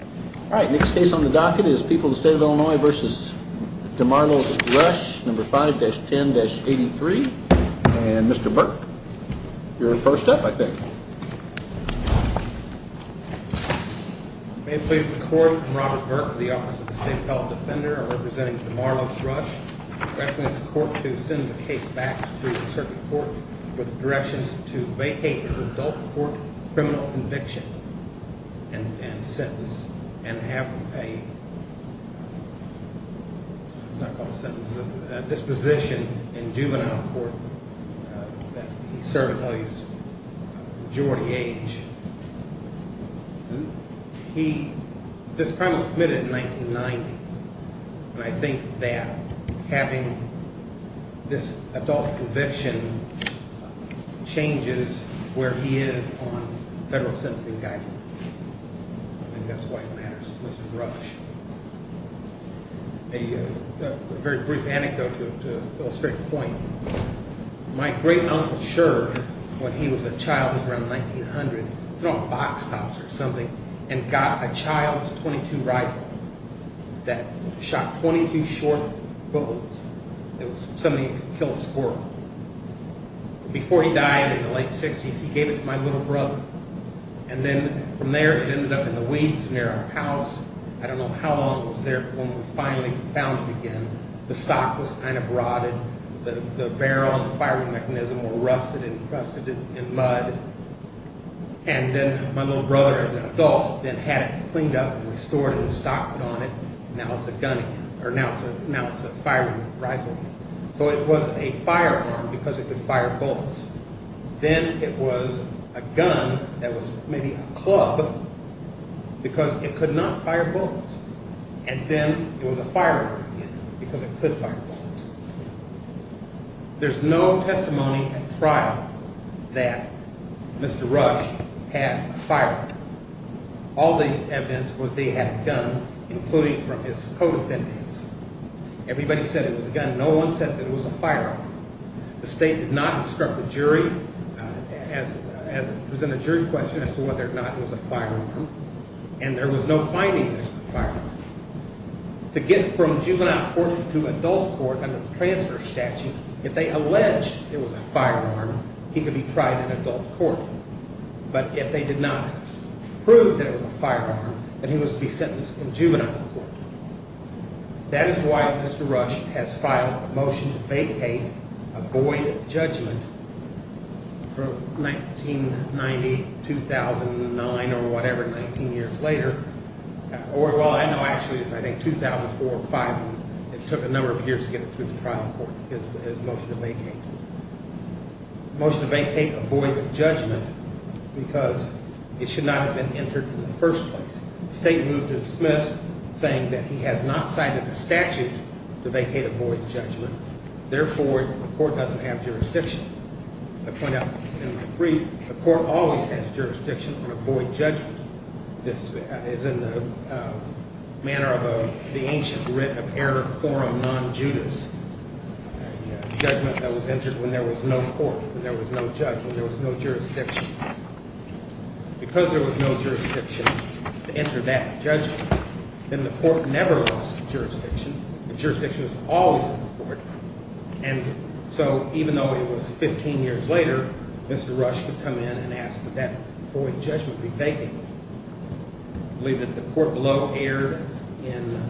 All right, next case on the docket is People of the State of Illinois v. DeMarlo's Rush, No. 5-10-83. And Mr. Burke, you're first up, I think. May it please the Court, I'm Robert Burke, the Office of the State Health Defender. I'm representing DeMarlo's Rush. I request the Court to send the case back to the Circuit Court with directions to vacate his adult court criminal conviction and sentence, and have a disposition in juvenile court that he served until his majority age. This crime was submitted in 1990, and I think that having this adult conviction changes where he is on federal sentencing guidance. And that's why it matters, Mr. Rush. A very brief anecdote to illustrate the point. My great-uncle Sherd, when he was a child, around 1900, threw off box tops or something, and got a child's .22 rifle that shot 22 short bullets. It was something that could kill a squirrel. Before he died in the late 60s, he gave it to my little brother, and then from there it ended up in the weeds near our house. I don't know how long it was there, but when we finally found it again, the stock was kind of rotted, the barrel and the firing mechanism were rusted and rusted in mud. And then my little brother, as an adult, then had it cleaned up and restored and stocked on it, and now it's a gun again, or now it's a firing rifle again. So it was a firearm because it could fire bullets. Then it was a gun that was maybe a club because it could not fire bullets. And then it was a firearm again because it could fire bullets. There's no testimony at trial that Mr. Rush had a firearm. All the evidence was they had a gun, including from his co-defendants. Everybody said it was a gun. No one said that it was a firearm. The state did not instruct the jury, present a jury question as to whether or not it was a firearm. And there was no finding that it was a firearm. To get from juvenile court to adult court under the transfer statute, if they allege it was a firearm, he could be tried in adult court. But if they did not prove that it was a firearm, then he would be sentenced in juvenile court. That is why Mr. Rush has filed a motion to vacate, avoid judgment, from 1990 to 2009 or whatever, 19 years later. Or, well, I know actually it's 2004 or 2005. It took a number of years to get it through the trial court, his motion to vacate. Motion to vacate, avoid judgment, because it should not have been entered in the first place. The state moved to dismiss, saying that he has not cited a statute to vacate, avoid judgment. Therefore, the court doesn't have jurisdiction. I point out in the brief, the court always has jurisdiction to avoid judgment. This is in the manner of the ancient writ of error quorum non-judice, a judgment that was entered when there was no court, when there was no judgment, when there was no jurisdiction. Because there was no jurisdiction to enter that judgment, then the court never lost jurisdiction. The jurisdiction was always in the court. And so even though it was 15 years later, Mr. Rush could come in and ask that that avoid judgment be vacated. I believe that the court below erred in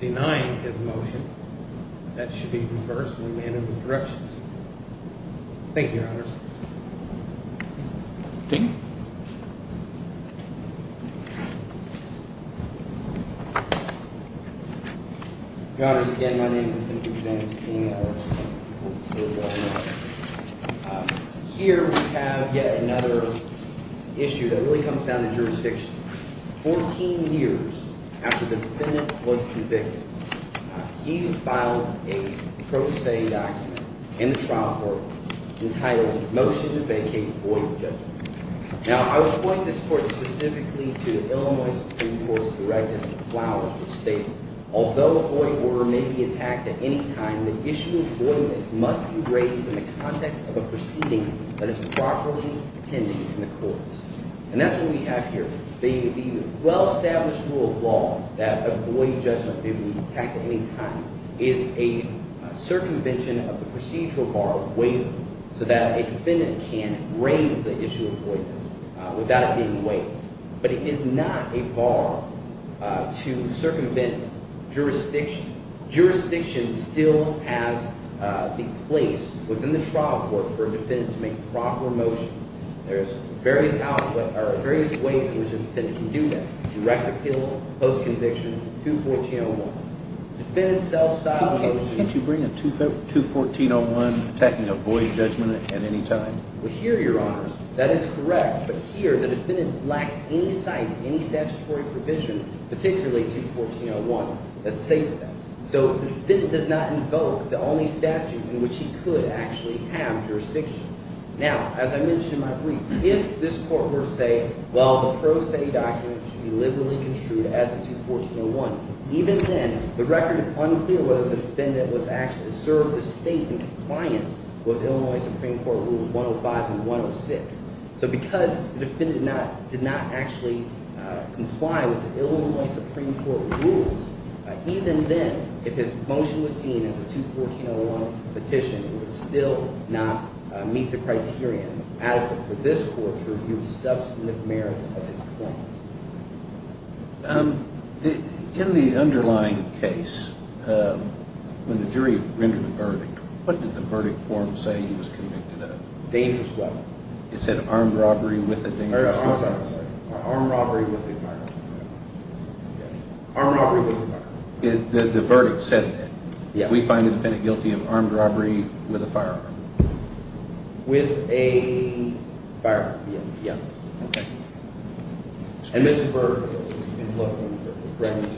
denying his motion. That should be reversed when we enter with corrections. Thank you, Your Honors. Thank you. Your Honors, again, my name is Timothy James. Here we have yet another issue that really comes down to jurisdiction. Fourteen years after the defendant was convicted, he filed a pro se document in the trial court entitled, Motion to Vacate Avoidant Judgment. Now, I would point this court specifically to the Illinois Supreme Court's directive to Flowers, which states, Although avoidant order may be attacked at any time, the issue of avoidance must be raised in the context of a proceeding that is properly pending in the courts. And that's what we have here. The well-established rule of law that avoidant judgment may be attacked at any time is a circumvention of the procedural bar of waiver, so that a defendant can raise the issue of avoidance without it being waived. But it is not a bar to circumvent jurisdiction. Jurisdiction still has a place within the trial court for a defendant to make proper motions. There's various ways in which a defendant can do that. Direct appeal, post-conviction, 214.01. Can't you bring a 214.01 attacking avoidant judgment at any time? Well, here, Your Honor, that is correct. But here, the defendant lacks any signs of any statutory provision, particularly 214.01, that states that. So the defendant does not invoke the only statute in which he could actually have jurisdiction. Now, as I mentioned in my brief, if this court were to say, well, the pro se document should be liberally construed as a 214.01, even then, the record is unclear whether the defendant was actually served a statement in compliance with Illinois Supreme Court Rules 105 and 106. So because the defendant did not actually comply with the Illinois Supreme Court rules, even then, if his motion was seen as a 214.01 petition, it would still not meet the criteria adequate for this court to review the substantive merits of his claims. In the underlying case, when the jury rendered a verdict, what did the verdict form say he was convicted of? Dangerous robbery. It said armed robbery with a dangerous weapon. Armed robbery with a firearm. Armed robbery with a firearm. The verdict said that. Yes. We find the defendant guilty of armed robbery with a firearm. With a firearm, yes. Okay. And this is for inflating the verdict.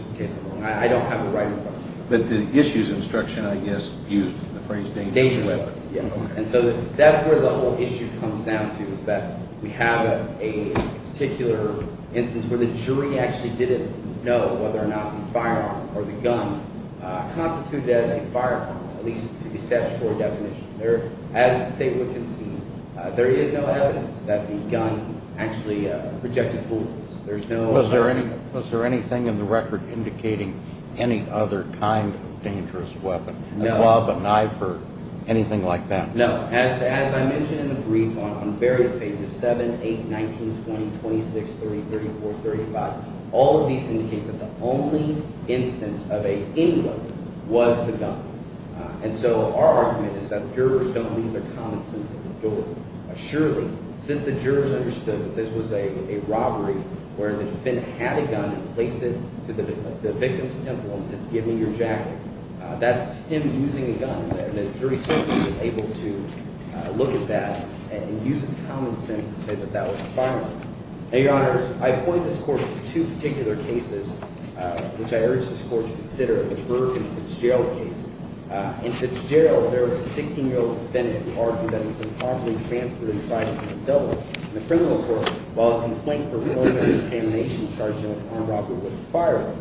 I don't have the right information. But the issues instruction, I guess, used the phrase dangerous robbery. Dangerous robbery, yes. And so that's where the whole issue comes down to is that we have a particular instance where the jury actually didn't know whether or not the firearm or the gun constituted as a firearm, at least to the statutory definition. As the state would concede, there is no evidence that the gun actually projected bullets. Was there anything in the record indicating any other kind of dangerous weapon, a club, a knife, or anything like that? No. As I mentioned in the brief on various pages, 7, 8, 19, 20, 26, 30, 34, 35, all of these indicate that the only instance of any weapon was the gun. And so our argument is that jurors don't leave their common sense at the door. Surely, since the jurors understood that this was a robbery where the defendant had a gun and placed it to the victim's temple and said, give me your jacket, that's him using a gun there. And the jury certainly was able to look at that and use its common sense to say that that was a firearm. Now, Your Honors, I point this court to two particular cases, which I urge this court to consider, the Burke and Fitzgerald case. In Fitzgerald, there was a 16-year-old defendant who argued that he was improperly transferred and tried as an adult. In the criminal court, while his complaint for murder and examination charged him with armed robbery with a firearm,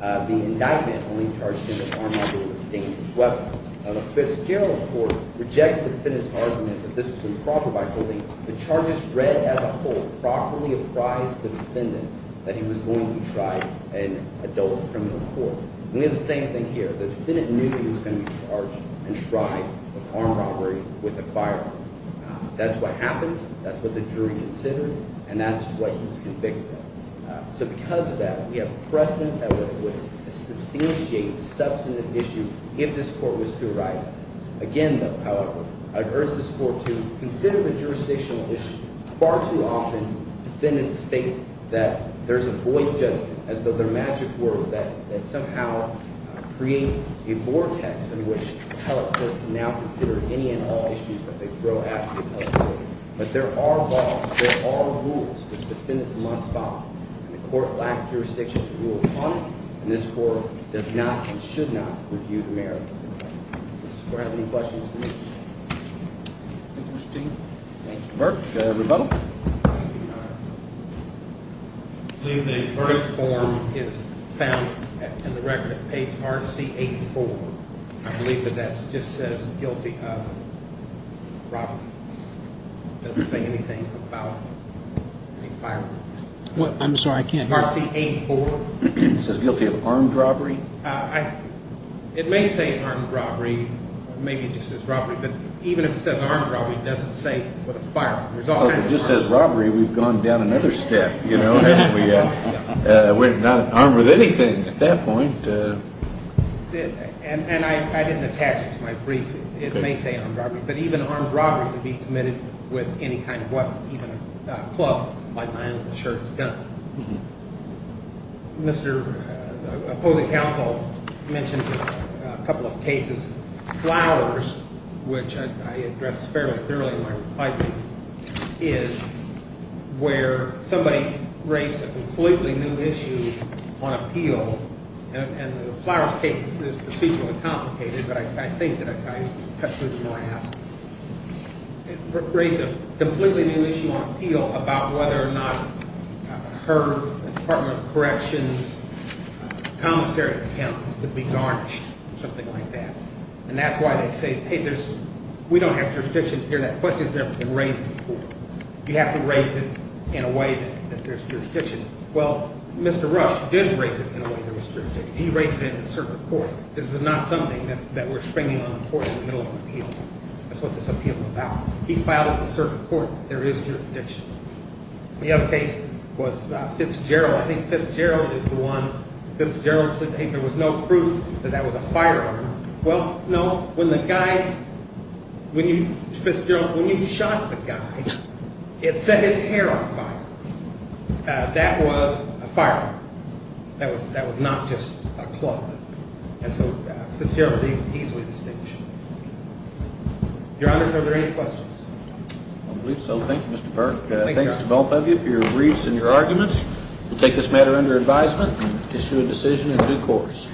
the indictment only charged him with armed robbery with a dangerous weapon. Now, the Fitzgerald court rejected the defendant's argument that this was improper by holding the charges read as a whole properly apprise the defendant that he was going to be tried in adult criminal court. And we have the same thing here. The defendant knew he was going to be charged and tried of armed robbery with a firearm. That's what happened. That's what the jury considered. And that's what he was convicted of. So because of that, we have precedent that would substantiate the substantive issue if this court was to arrive. Again, though, however, I urge this court to consider the jurisdictional issue. Far too often, defendants state that there's a void judgment, as though they're magic words that somehow create a vortex in which appellate courts can now consider any and all issues that they throw at the appellate court. But there are laws. There are rules that defendants must follow. And the court lacked jurisdiction to rule upon it. And this court does not and should not review the merits of the verdict. Does this court have any questions for me? Thank you, Steve. Thank you, Burke. Everybody? I believe the verdict form is found in the record of page RC8-4. I believe that that just says guilty of robbery. It doesn't say anything about a firearm. I'm sorry, I can't hear. RC8-4. It says guilty of armed robbery? It may say armed robbery. Maybe it just says robbery. But even if it says armed robbery, it doesn't say a firearm. If it just says robbery, we've gone down another step, you know? We're not armed with anything at that point. And I didn't attach it to my brief. It may say armed robbery. But even armed robbery could be committed with any kind of weapon, even a club like my uncle's shirt's gun. Mr. Opposing Counsel mentioned a couple of cases. Flowers, which I addressed fairly early in my reply brief, is where somebody raised a completely new issue on appeal. And the Flowers case is procedurally complicated, but I think that I cut loose more ass. Raised a completely new issue on appeal about whether or not a herd, Department of Corrections, commissary accounts could be garnished, something like that. And that's why they say, hey, we don't have jurisdiction here. That question's never been raised before. You have to raise it in a way that there's jurisdiction. Well, Mr. Rush did raise it in a way there was jurisdiction. He raised it in the circuit court. This is not something that we're swinging on the court in the middle of an appeal. That's what this appeal's about. He filed it in the circuit court. There is jurisdiction. The other case was Fitzgerald. I think Fitzgerald is the one. Fitzgerald said there was no proof that that was a firearm. Well, no. When the guy, when you shot the guy, it set his hair on fire. That was a firearm. That was not just a cloth. And so Fitzgerald is easily distinguished. Your Honor, are there any questions? I believe so. Thanks to both of you for your briefs and your arguments. We'll take this matter under advisement and issue a decision in due course.